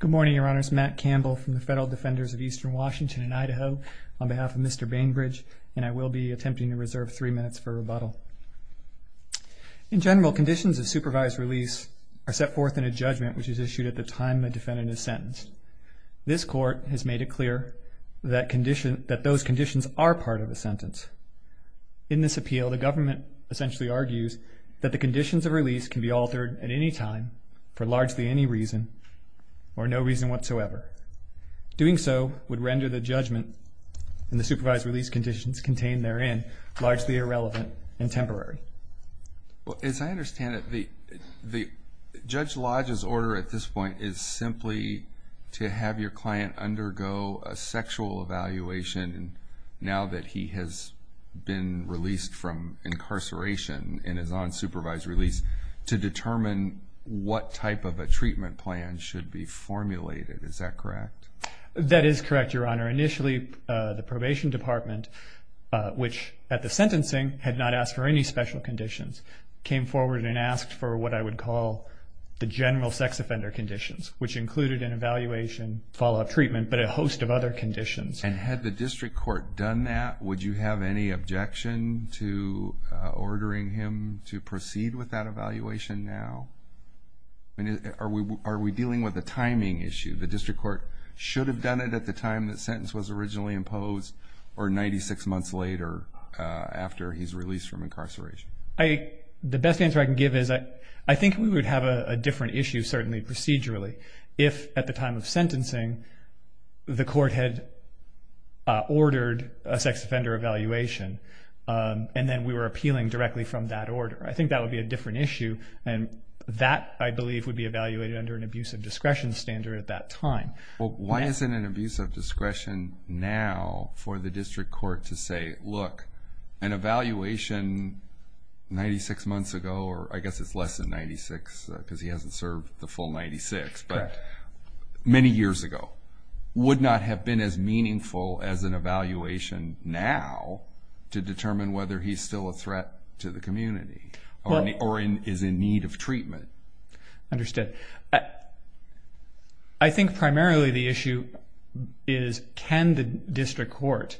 Good morning, Your Honors. Matt Campbell from the Federal Defenders of Eastern Washington and Idaho on behalf of Mr. Bainbridge, and I will be attempting to reserve three minutes for rebuttal. In general, conditions of supervised release are set forth in a judgment which is issued at the time the defendant is sentenced. This Court has made it clear that those conditions are part of a sentence. In this appeal, the government essentially argues that the conditions of release can be altered at any time for largely any reason or no reason whatsoever. Doing so would render the judgment and the supervised release conditions contained therein largely irrelevant and temporary. As I understand it, Judge Lodge's order at this point is simply to have your client undergo a sexual evaluation now that he has been released from incarceration and is on supervised release to determine what type of a treatment plan should be formulated. Is that correct? That is correct, Your Honor. Initially, the probation department, which at the sentencing had not asked for any special conditions, came forward and asked for what I would call the general sex offender conditions, which included an evaluation, follow-up treatment, but a host of other conditions. And had the district court done that, would you have any objection to ordering him to proceed with that evaluation now? Are we dealing with a timing issue? The district court should have done it at the time the sentence was originally imposed or 96 months later after he's released from incarceration? The best answer I can give is I think we would have a different issue, certainly procedurally, if at the time of sentencing the court had ordered a sex offender evaluation and then we were appealing directly from that order. I think that would be a different issue, and that, I believe, would be evaluated under an abuse of discretion standard at that time. Well, why isn't an abuse of discretion now for the district court to say, look, an evaluation 96 months ago, or I guess it's less than 96 because he hasn't served the full 96, but many years ago, would not have been as meaningful as an evaluation now to determine whether he's still a threat to the community or is in need of treatment. Understood. I think primarily the issue is can the district court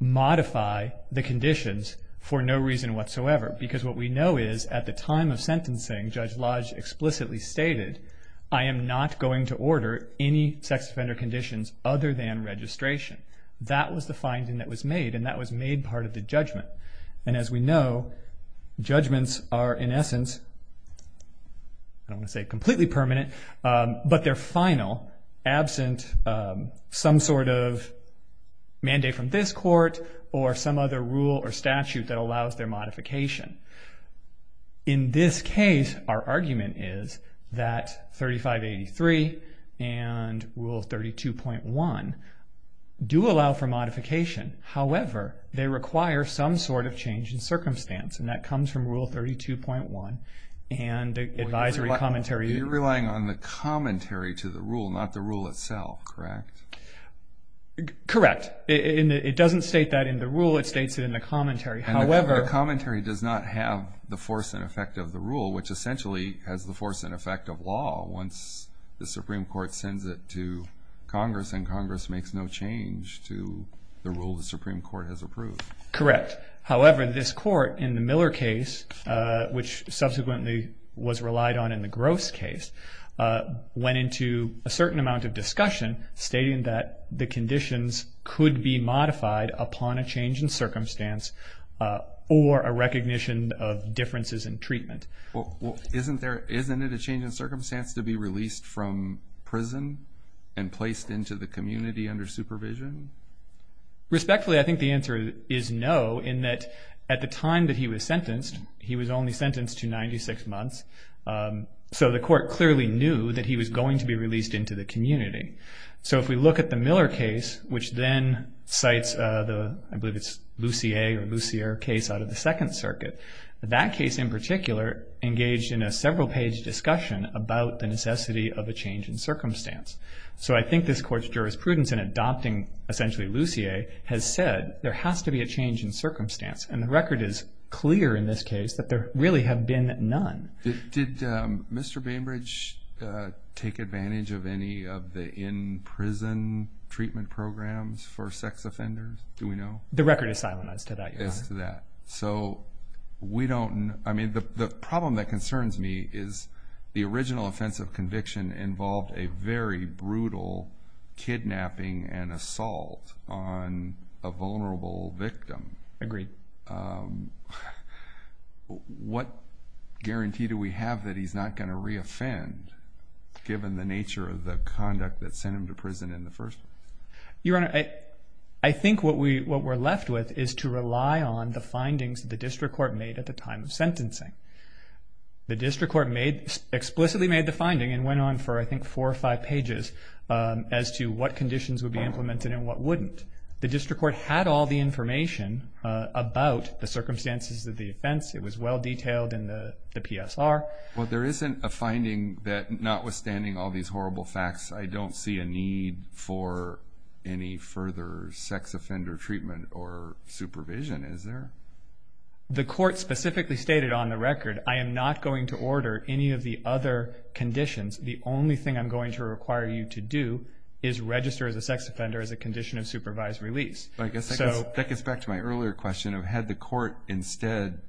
modify the conditions for no reason whatsoever? Because what we know is at the time of sentencing, Judge Lodge explicitly stated, I am not going to order any sex offender conditions other than registration. That was the finding that was made, and that was made part of the judgment. And as we know, judgments are, in essence, I don't want to say completely permanent, but they're final, absent some sort of mandate from this court or some other rule or statute that allows their modification. In this case, our argument is that 3583 and Rule 32.1 do allow for modification. However, they require some sort of change in circumstance, and that comes from Rule 32.1 and advisory commentary. You're relying on the commentary to the rule, not the rule itself, correct? Correct. It doesn't state that in the rule. It states it in the commentary. The commentary does not have the force and effect of the rule, which essentially has the force and effect of law once the Supreme Court sends it to Congress, and Congress makes no change to the rule the Supreme Court has approved. Correct. However, this court in the Miller case, which subsequently was relied on in the Gross case, went into a certain amount of discussion stating that the conditions could be modified upon a change in circumstance or a recognition of differences in treatment. Well, isn't there, isn't it a change in circumstance to be released from prison and placed into the community under supervision? Respectfully, I think the answer is no, in that at the time that he was sentenced, he was only sentenced to 96 months, so the court clearly knew that he was going to be released into the community. So if we look at the Miller case, which then cites the, I believe it's Lucier case out of the Second Circuit, that case in particular engaged in a several-page discussion about the necessity of a change in circumstance. So I think this court's jurisprudence in adopting essentially Lucier has said there has to be a change in circumstance, and the record is clear in this case that there really have been none. Did Mr. Bainbridge take advantage of any of the in-prison treatment programs for sex offenders? Do we know? The record is silenized to that, Your Honor. Yes, to that. So we don't, I mean, the problem that concerns me is the original offense of conviction involved a very brutal kidnapping and assault on a vulnerable victim. Agreed. What guarantee do we have that he's not going to re-offend, given the nature of the conduct that sent him to prison in the first place? Your Honor, I think what we're left with is to rely on the findings the district court made at the time of sentencing. The district court explicitly made the finding and went on for, I think, four or five pages as to what conditions would be implemented and what wouldn't. The district court had all the information about the circumstances of the offense. It was well detailed in the PSR. Well, there isn't a finding that notwithstanding all these horrible facts, I don't see a need for any further sex offender treatment or supervision, is there? The court specifically stated on the record, I am not going to order any of the other conditions. The only thing I'm going to require you to do is register as a sex offender as a condition of supervised release. That gets back to my earlier question of had the court instead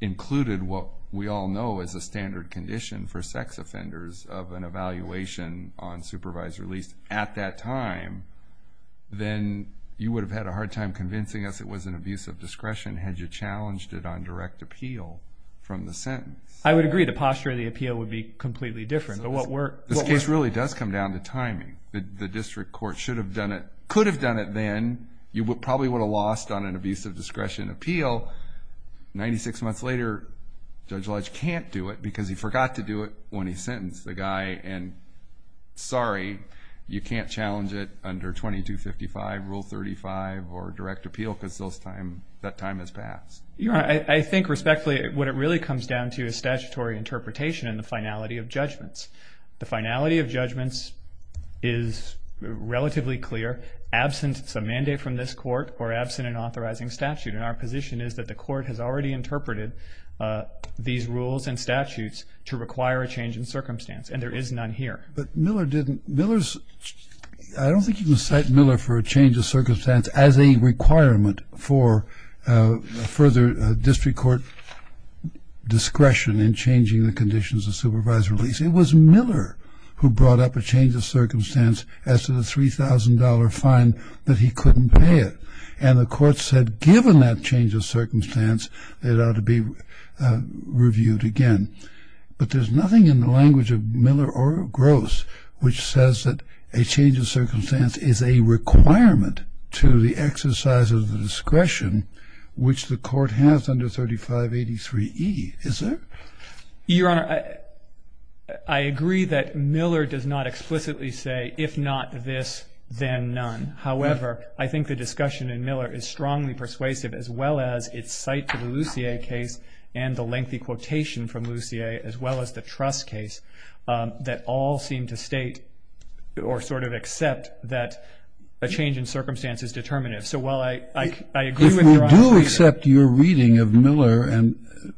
included what we all know is a standard condition for sex offenders of an evaluation on supervised release at that time, then you would have had a hard time convincing us it was an abuse of discretion had you challenged it on direct appeal from the sentence. I would agree. The posture of the appeal would be completely different. This case really does come down to timing. The district court should have done it, could have done it then. You probably would have lost on an abuse of discretion appeal. Ninety-six months later, Judge Lodge can't do it because he forgot to do it when he sentenced the guy, and sorry, you can't challenge it under 2255, Rule 35, or direct appeal because that time has passed. I think respectfully what it really comes down to is statutory interpretation and the finality of judgments. The finality of judgments is relatively clear. Absent a mandate from this court or absent an authorizing statute, and our position is that the court has already interpreted these rules and statutes to require a change in circumstance, and there is none here. But Miller didn't. I don't think you can cite Miller for a change of circumstance as a requirement for further district court discretion in changing the conditions of supervised release. It was Miller who brought up a change of circumstance as to the $3,000 fine that he couldn't pay it, and the court said given that change of circumstance, it ought to be reviewed again. But there's nothing in the language of Miller or Gross which says that a change of circumstance is a requirement to the exercise of the discretion which the court has under 3583E. Is there? Your Honor, I agree that Miller does not explicitly say if not this, then none. However, I think the discussion in Miller is strongly persuasive as well as its cite to the Lussier case and the lengthy quotation from Lussier as well as the Trust case that all seem to state or sort of accept that a change in circumstance is determinative. So while I agree with your observation. I do accept your reading of Miller, and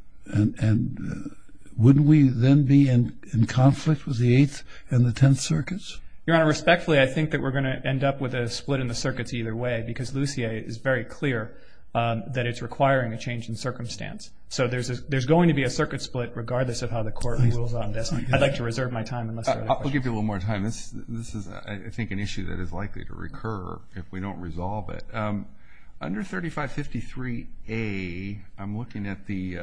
wouldn't we then be in conflict with the Eighth and the Tenth Circuits? Your Honor, respectfully, I think that we're going to end up with a split in the circuits either way because Lussier is very clear that it's requiring a change in circumstance. So there's going to be a circuit split regardless of how the court rules on this. I'd like to reserve my time unless there are other questions. I'll give you a little more time. This is, I think, an issue that is likely to recur if we don't resolve it. Under 3553A, I'm looking at the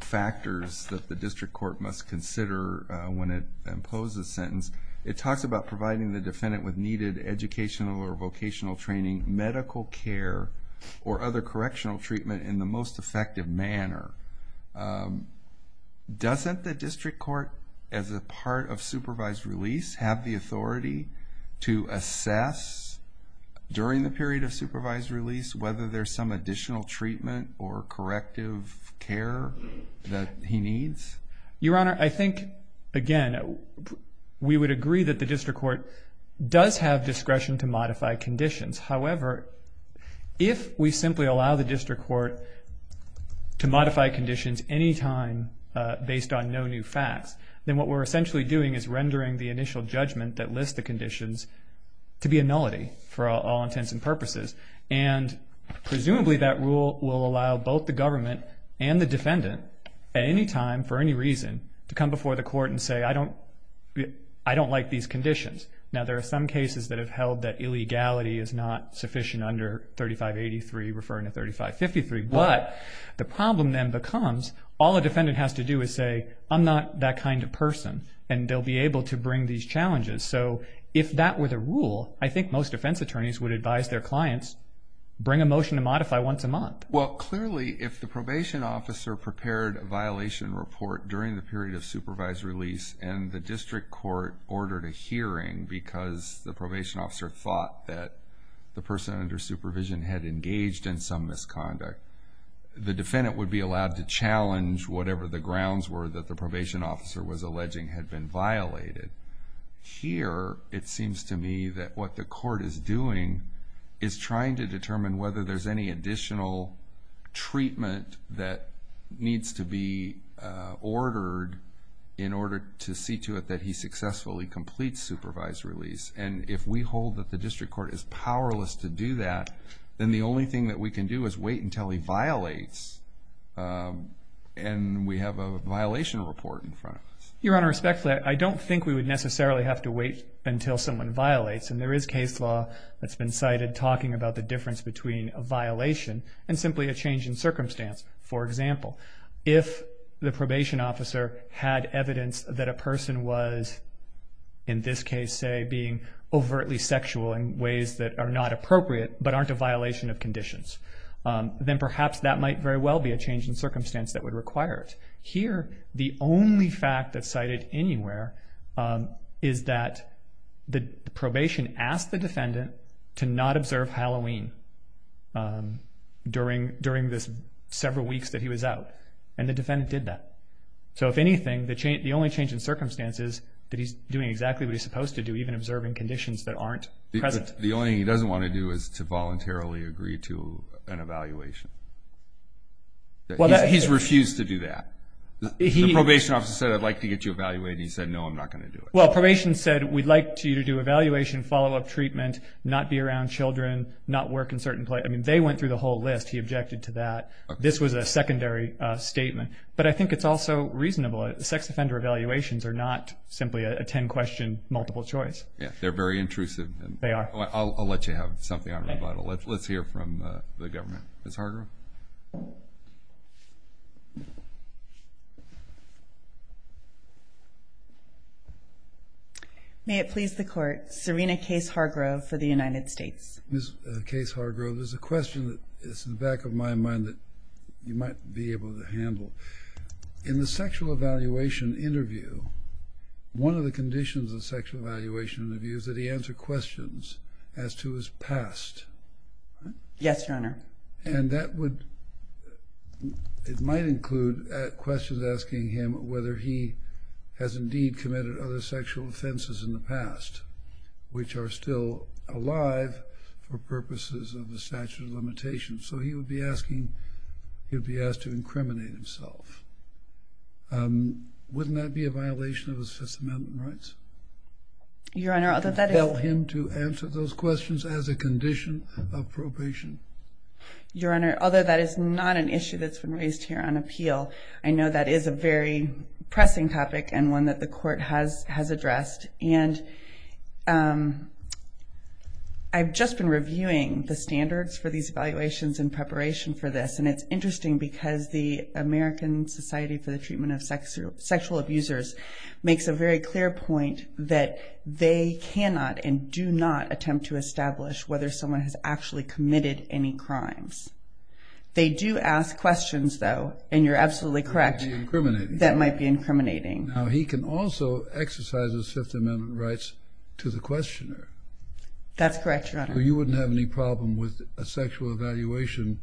factors that the district court must consider when it imposes a sentence. It talks about providing the defendant with needed educational or vocational training, medical care, or other correctional treatment in the most effective manner. Doesn't the district court, as a part of supervised release, have the authority to assess during the period of supervised release whether there's some additional treatment or corrective care that he needs? Your Honor, I think, again, we would agree that the district court does have discretion to modify conditions. However, if we simply allow the district court to modify conditions anytime based on no new facts, then what we're essentially doing is rendering the initial judgment that lists the conditions to be a nullity for all intents and purposes. And presumably that rule will allow both the government and the defendant at any time for any reason to come before the court and say, I don't like these conditions. Now, there are some cases that have held that illegality is not sufficient under 3583 referring to 3553. But the problem then becomes all a defendant has to do is say, I'm not that kind of person, and they'll be able to bring these challenges. So if that were the rule, I think most defense attorneys would advise their clients bring a motion to modify once a month. Well, clearly, if the probation officer prepared a violation report during the period of supervised release and the district court ordered a hearing because the probation officer thought that the person under supervision had engaged in some misconduct, the defendant would be allowed to challenge whatever the grounds were that the probation officer was alleging had been violated. Here, it seems to me that what the court is doing is trying to determine whether there's any additional treatment that needs to be ordered in order to see to it that he successfully completes supervised release. And if we hold that the district court is powerless to do that, then the only thing that we can do is wait until he violates and we have a violation report in front of us. Your Honor, respectfully, I don't think we would necessarily have to wait until someone violates, and there is case law that's been cited talking about the difference between a violation and simply a change in circumstance. For example, if the probation officer had evidence that a person was, in this case, say, being overtly sexual in ways that are not appropriate but aren't a violation of conditions, then perhaps that might very well be a change in circumstance that would require it. Here, the only fact that's cited anywhere is that the probation asked the defendant to not observe Halloween during the several weeks that he was out, and the defendant did that. So if anything, the only change in circumstance is that he's doing exactly what he's supposed to do, even observing conditions that aren't present. The only thing he doesn't want to do is to voluntarily agree to an evaluation. He's refused to do that. The probation officer said, I'd like to get you evaluated, and he said, no, I'm not going to do it. Well, probation said, we'd like you to do evaluation, follow-up treatment, not be around children, not work in certain places. I mean, they went through the whole list. He objected to that. This was a secondary statement. But I think it's also reasonable. Sex offender evaluations are not simply a 10-question multiple choice. Yeah, they're very intrusive. They are. I'll let you have something on rebuttal. Let's hear from the government. Ms. Hargrove? May it please the Court, Serena Case Hargrove for the United States. Ms. Case Hargrove, there's a question that's in the back of my mind that you might be able to handle. In the sexual evaluation interview, one of the conditions of the sexual evaluation interview is that he answer questions as to his past. Yes, Your Honor. And that would, it might include questions asking him whether he has indeed committed other sexual offenses in the past, which are still alive for purposes of the statute of limitations. So he would be asking, he would be asked to incriminate himself. Wouldn't that be a violation of his Fifth Amendment rights? Your Honor, although that is... Tell him to answer those questions as a condition of probation. Your Honor, although that is not an issue that's been raised here on appeal, I know that is a very pressing topic and one that the Court has addressed. And I've just been reviewing the standards for these evaluations in preparation for this, and it's interesting because the American Society for the Treatment of Sexual Abusers makes a very clear point that they cannot and do not attempt to establish whether someone has actually committed any crimes. They do ask questions, though, and you're absolutely correct, that might be incriminating. Now, he can also exercise his Fifth Amendment rights to the questioner. That's correct, Your Honor. So you wouldn't have any problem with a sexual evaluation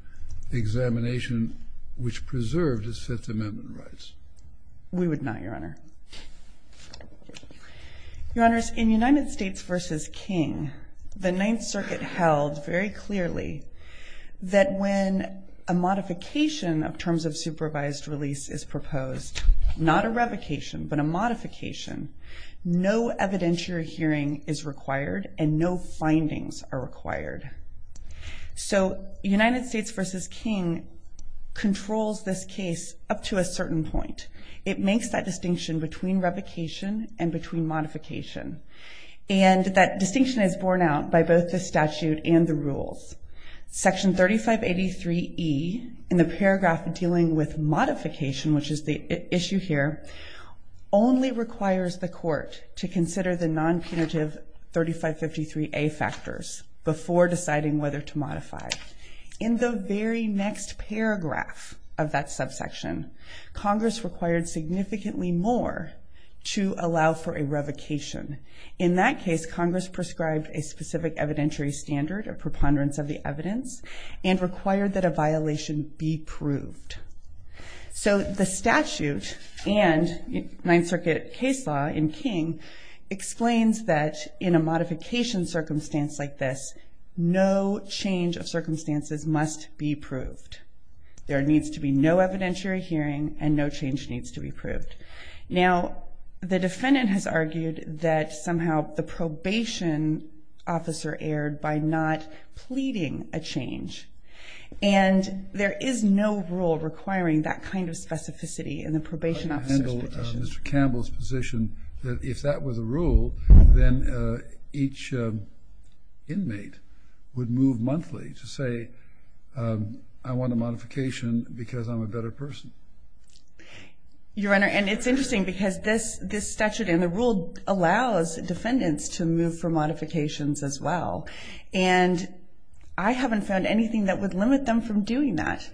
examination, which preserved his Fifth Amendment rights? We would not, Your Honor. Your Honors, in United States v. King, the Ninth Circuit held very clearly that when a modification of terms of supervised release is proposed, not a revocation but a modification, no evidentiary hearing is required and no findings are required. So United States v. King controls this case up to a certain point. It makes that distinction between revocation and between modification. And that distinction is borne out by both the statute and the rules. Section 3583E in the paragraph dealing with modification, which is the issue here, only requires the court to consider the non-punitive 3553A factors before deciding whether to modify. In the very next paragraph of that subsection, Congress required significantly more to allow for a revocation. In that case, Congress prescribed a specific evidentiary standard, a preponderance of the evidence, and required that a violation be proved. So the statute and Ninth Circuit case law in King explains that in a modification circumstance like this, no change of circumstances must be proved. There needs to be no evidentiary hearing and no change needs to be proved. Now, the defendant has argued that somehow the probation officer erred by not pleading a change. And there is no rule requiring that kind of specificity in the probation officer's position. But you handle Mr. Campbell's position that if that was a rule, then each inmate would move monthly to say, I want a modification because I'm a better person. Your Honor, and it's interesting because this statute and the rule allows defendants to move for modifications as well. And I haven't found anything that would limit them from doing that.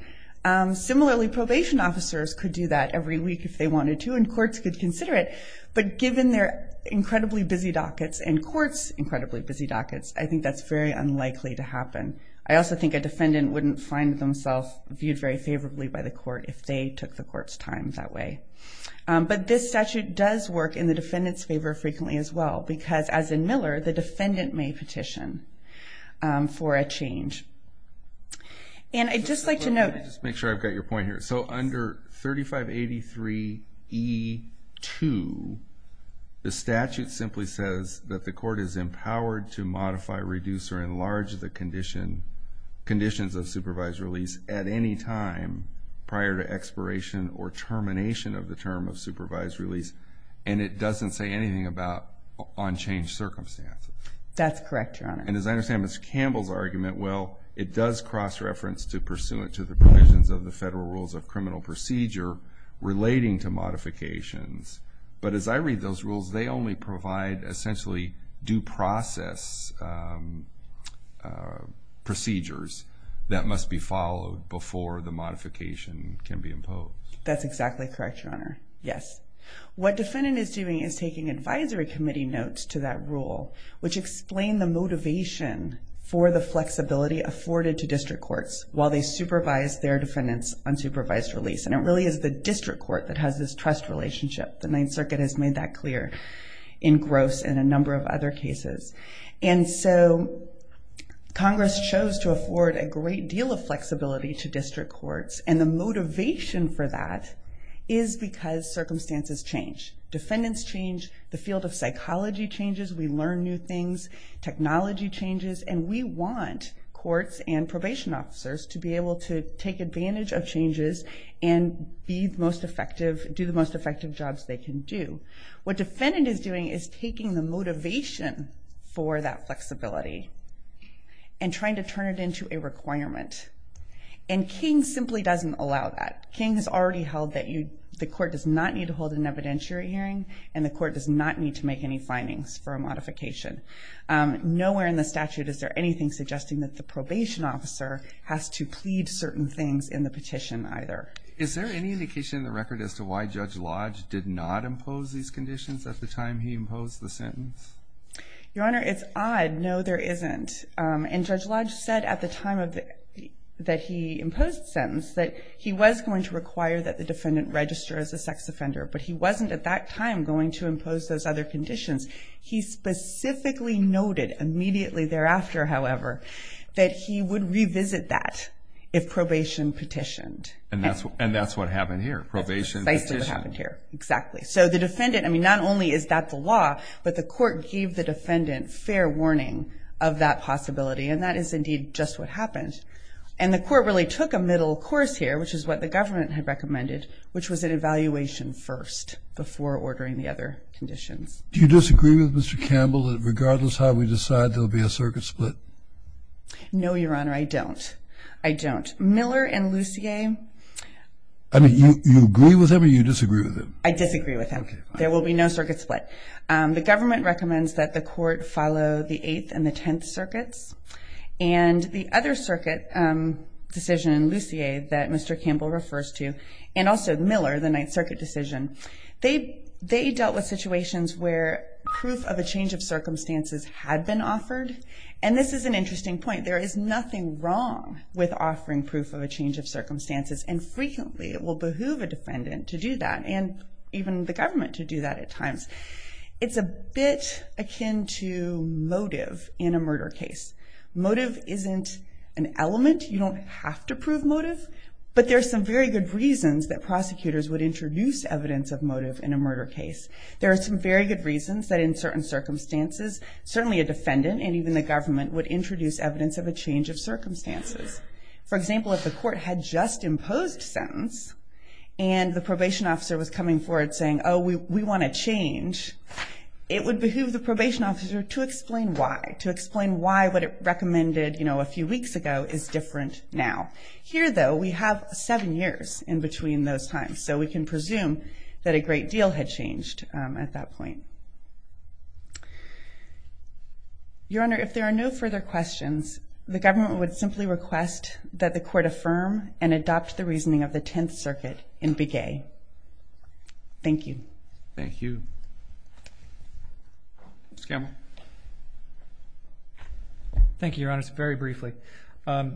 Similarly, probation officers could do that every week if they wanted to and courts could consider it. But given their incredibly busy dockets and courts' incredibly busy dockets, I think that's very unlikely to happen. I also think a defendant wouldn't find themselves viewed very favorably by the court if they took the court's time that way. But this statute does work in the defendant's favor frequently as well because, as in Miller, the defendant may petition for a change. And I'd just like to note... Let me just make sure I've got your point here. So under 3583E2, the statute simply says that the court is empowered to modify, reduce, or enlarge the conditions of supervised release at any time prior to expiration or termination of the term of supervised release. And it doesn't say anything about unchanged circumstances. That's correct, Your Honor. And as I understand Ms. Campbell's argument, well, it does cross-reference to pursuant to the provisions of the Federal Rules of Criminal Procedure relating to modifications. But as I read those rules, they only provide essentially due process procedures that must be followed before the modification can be imposed. That's exactly correct, Your Honor. Yes. What defendant is doing is taking advisory committee notes to that rule, which explain the motivation for the flexibility afforded to district courts while they supervise their defendants on supervised release. And it really is the district court that has this trust relationship. The Ninth Circuit has made that clear in Gross and a number of other cases. And so Congress chose to afford a great deal of flexibility to district courts, and the motivation for that is because circumstances change. Defendants change. The field of psychology changes. We learn new things. Technology changes. And we want courts and probation officers to be able to take advantage of changes and do the most effective jobs they can do. What defendant is doing is taking the motivation for that flexibility and trying to turn it into a requirement. And King simply doesn't allow that. King has already held that the court does not need to hold an evidentiary hearing and the court does not need to make any findings for a modification. Nowhere in the statute is there anything suggesting that the probation officer has to plead certain things in the petition either. Is there any indication in the record as to why Judge Lodge did not impose these conditions at the time he imposed the sentence? Your Honor, it's odd. No, there isn't. And Judge Lodge said at the time that he imposed the sentence that he was going to require that the defendant register as a sex offender, but he wasn't at that time going to impose those other conditions. He specifically noted immediately thereafter, however, that he would revisit that if probation petitioned. And that's what happened here, probation petitioned. That's precisely what happened here, exactly. So the defendant, I mean, not only is that the law, but the court gave the defendant fair warning of that possibility, and that is indeed just what happened. And the court really took a middle course here, which is what the government had recommended, which was an evaluation first before ordering the other conditions. Do you disagree with Mr. Campbell that regardless of how we decide, there will be a circuit split? No, Your Honor, I don't. I don't. Miller and Lucier? I mean, you agree with them or you disagree with them? I disagree with them. There will be no circuit split. The government recommends that the court follow the Eighth and the Tenth Circuits. And the other circuit decision, Lucier, that Mr. Campbell refers to, and also Miller, the Ninth Circuit decision, they dealt with situations where proof of a change of circumstances had been offered. And this is an interesting point. There is nothing wrong with offering proof of a change of circumstances, and frequently it will behoove a defendant to do that, and even the government to do that at times. It's a bit akin to motive in a murder case. Motive isn't an element. You don't have to prove motive. But there are some very good reasons that prosecutors would introduce evidence of motive in a murder case. There are some very good reasons that in certain circumstances, certainly a defendant and even the government would introduce evidence of a change of circumstances. For example, if the court had just imposed sentence and the probation officer was coming forward saying, oh, we want a change, it would behoove the probation officer to explain why, to explain why what it recommended a few weeks ago is different now. Here, though, we have seven years in between those times, so we can presume that a great deal had changed at that point. Your Honor, if there are no further questions, the government would simply request that the court affirm and adopt the reasoning of the Tenth Circuit in Big A. Thank you. Thank you. Mr. Campbell. Thank you, Your Honor. It's very briefly. To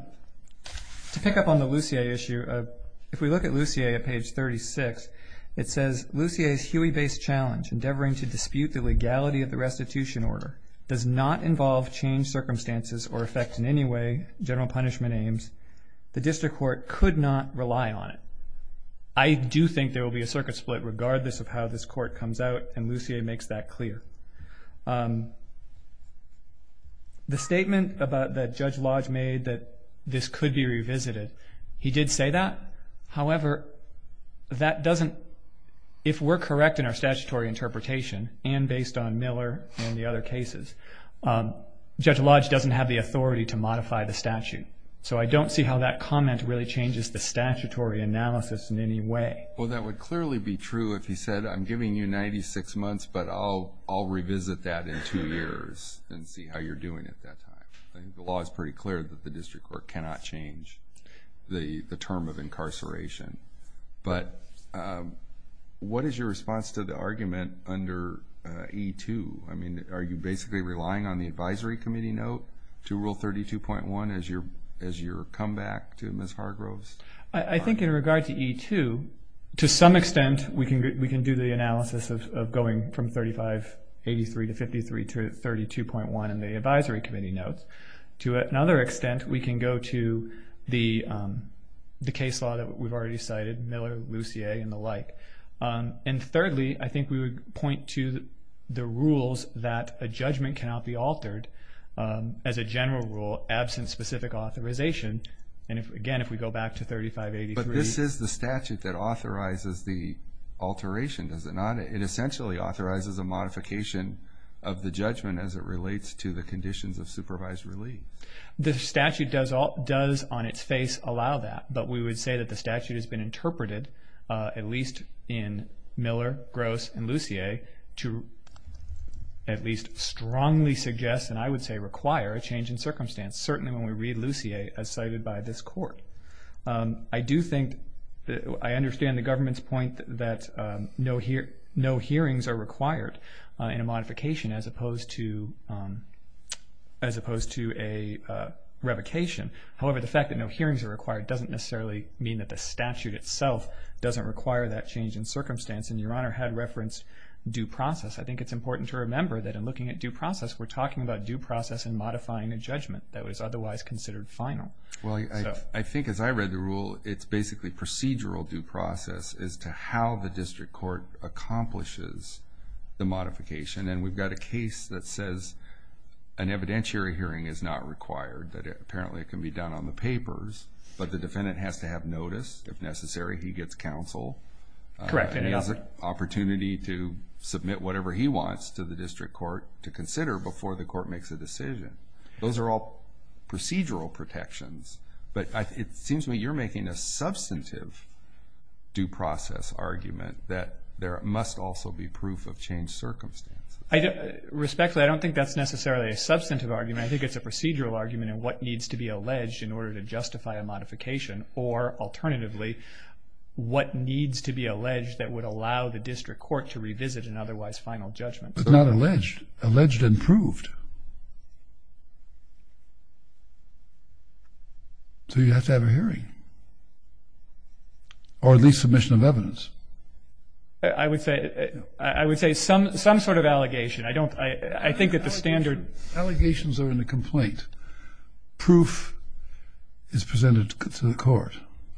pick up on the Lussier issue, if we look at Lussier at page 36, it says, Lussier's Huey-based challenge, endeavoring to dispute the legality of the restitution order, does not involve change circumstances or affect in any way general punishment aims. The district court could not rely on it. I do think there will be a circuit split regardless of how this court comes out, and Lussier makes that clear. The statement that Judge Lodge made that this could be revisited, he did say that. However, that doesn't, if we're correct in our statutory interpretation, and based on Miller and the other cases, Judge Lodge doesn't have the authority to modify the statute. So I don't see how that comment really changes the statutory analysis in any way. Well, that would clearly be true if he said, I'm giving you 96 months, but I'll revisit that in two years and see how you're doing at that time. The law is pretty clear that the district court cannot change the term of incarceration. But what is your response to the argument under E2? I mean, are you basically relying on the advisory committee note to Rule 32.1 as your comeback to Ms. Hargroves? I think in regard to E2, to some extent we can do the analysis of going from 3583 to 53 to 32.1 in the advisory committee notes. To another extent, we can go to the case law that we've already cited, Miller, Lussier, and the like. And thirdly, I think we would point to the rules that a judgment cannot be altered as a general rule absent specific authorization. And again, if we go back to 3583. But this is the statute that authorizes the alteration, does it not? It essentially authorizes a modification of the judgment as it relates to the conditions of supervised relief. The statute does on its face allow that. But we would say that the statute has been interpreted, at least in Miller, Gross, and Lussier, to at least strongly suggest, and I would say require, a change in circumstance. Certainly when we read Lussier as cited by this court. I do think that I understand the government's point that no hearings are required in a modification as opposed to a revocation. However, the fact that no hearings are required doesn't necessarily mean that the statute itself doesn't require that change in circumstance. And Your Honor had referenced due process. I think it's important to remember that in looking at due process, we're talking about due process in modifying a judgment that was otherwise considered final. Well, I think as I read the rule, it's basically procedural due process as to how the district court accomplishes the modification. And we've got a case that says an evidentiary hearing is not required, that apparently it can be done on the papers, but the defendant has to have notice. If necessary, he gets counsel. Correct. He has an opportunity to submit whatever he wants to the district court to consider before the court makes a decision. Those are all procedural protections. But it seems to me you're making a substantive due process argument that there must also be proof of changed circumstances. Respectfully, I don't think that's necessarily a substantive argument. I think it's a procedural argument in what needs to be alleged in order to justify a modification, or alternatively what needs to be alleged that would allow the district court to revisit an otherwise final judgment. But not alleged. Alleged and proved. So you have to have a hearing. Or at least submission of evidence. I would say some sort of allegation. I think that the standard. Allegations are in the complaint. Proof is presented to the court,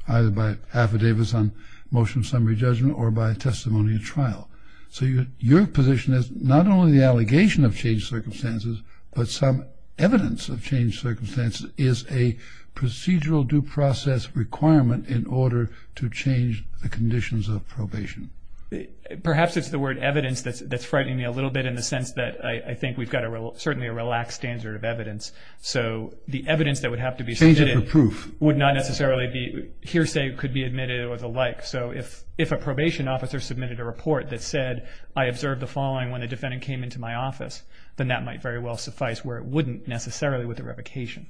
either by affidavits on motion of summary judgment or by testimony at trial. So your position is not only the allegation of changed circumstances, but some evidence of changed circumstances is a procedural due process requirement in order to change the conditions of probation. Perhaps it's the word evidence that's frightening me a little bit in the sense that I think we've got certainly a relaxed standard of evidence. So the evidence that would have to be submitted would not necessarily be, hearsay could be admitted or the like. So if a probation officer submitted a report that said, I observed the following when the defendant came into my office, then that might very well suffice where it wouldn't necessarily with a revocation.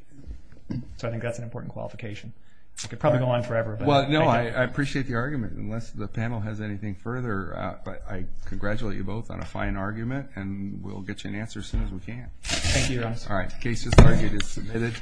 So I think that's an important qualification. It could probably go on forever. Well, no, I appreciate the argument. Unless the panel has anything further, I congratulate you both on a fine argument, and we'll get you an answer as soon as we can. Thank you, Your Honor. All right, the case is targeted and submitted.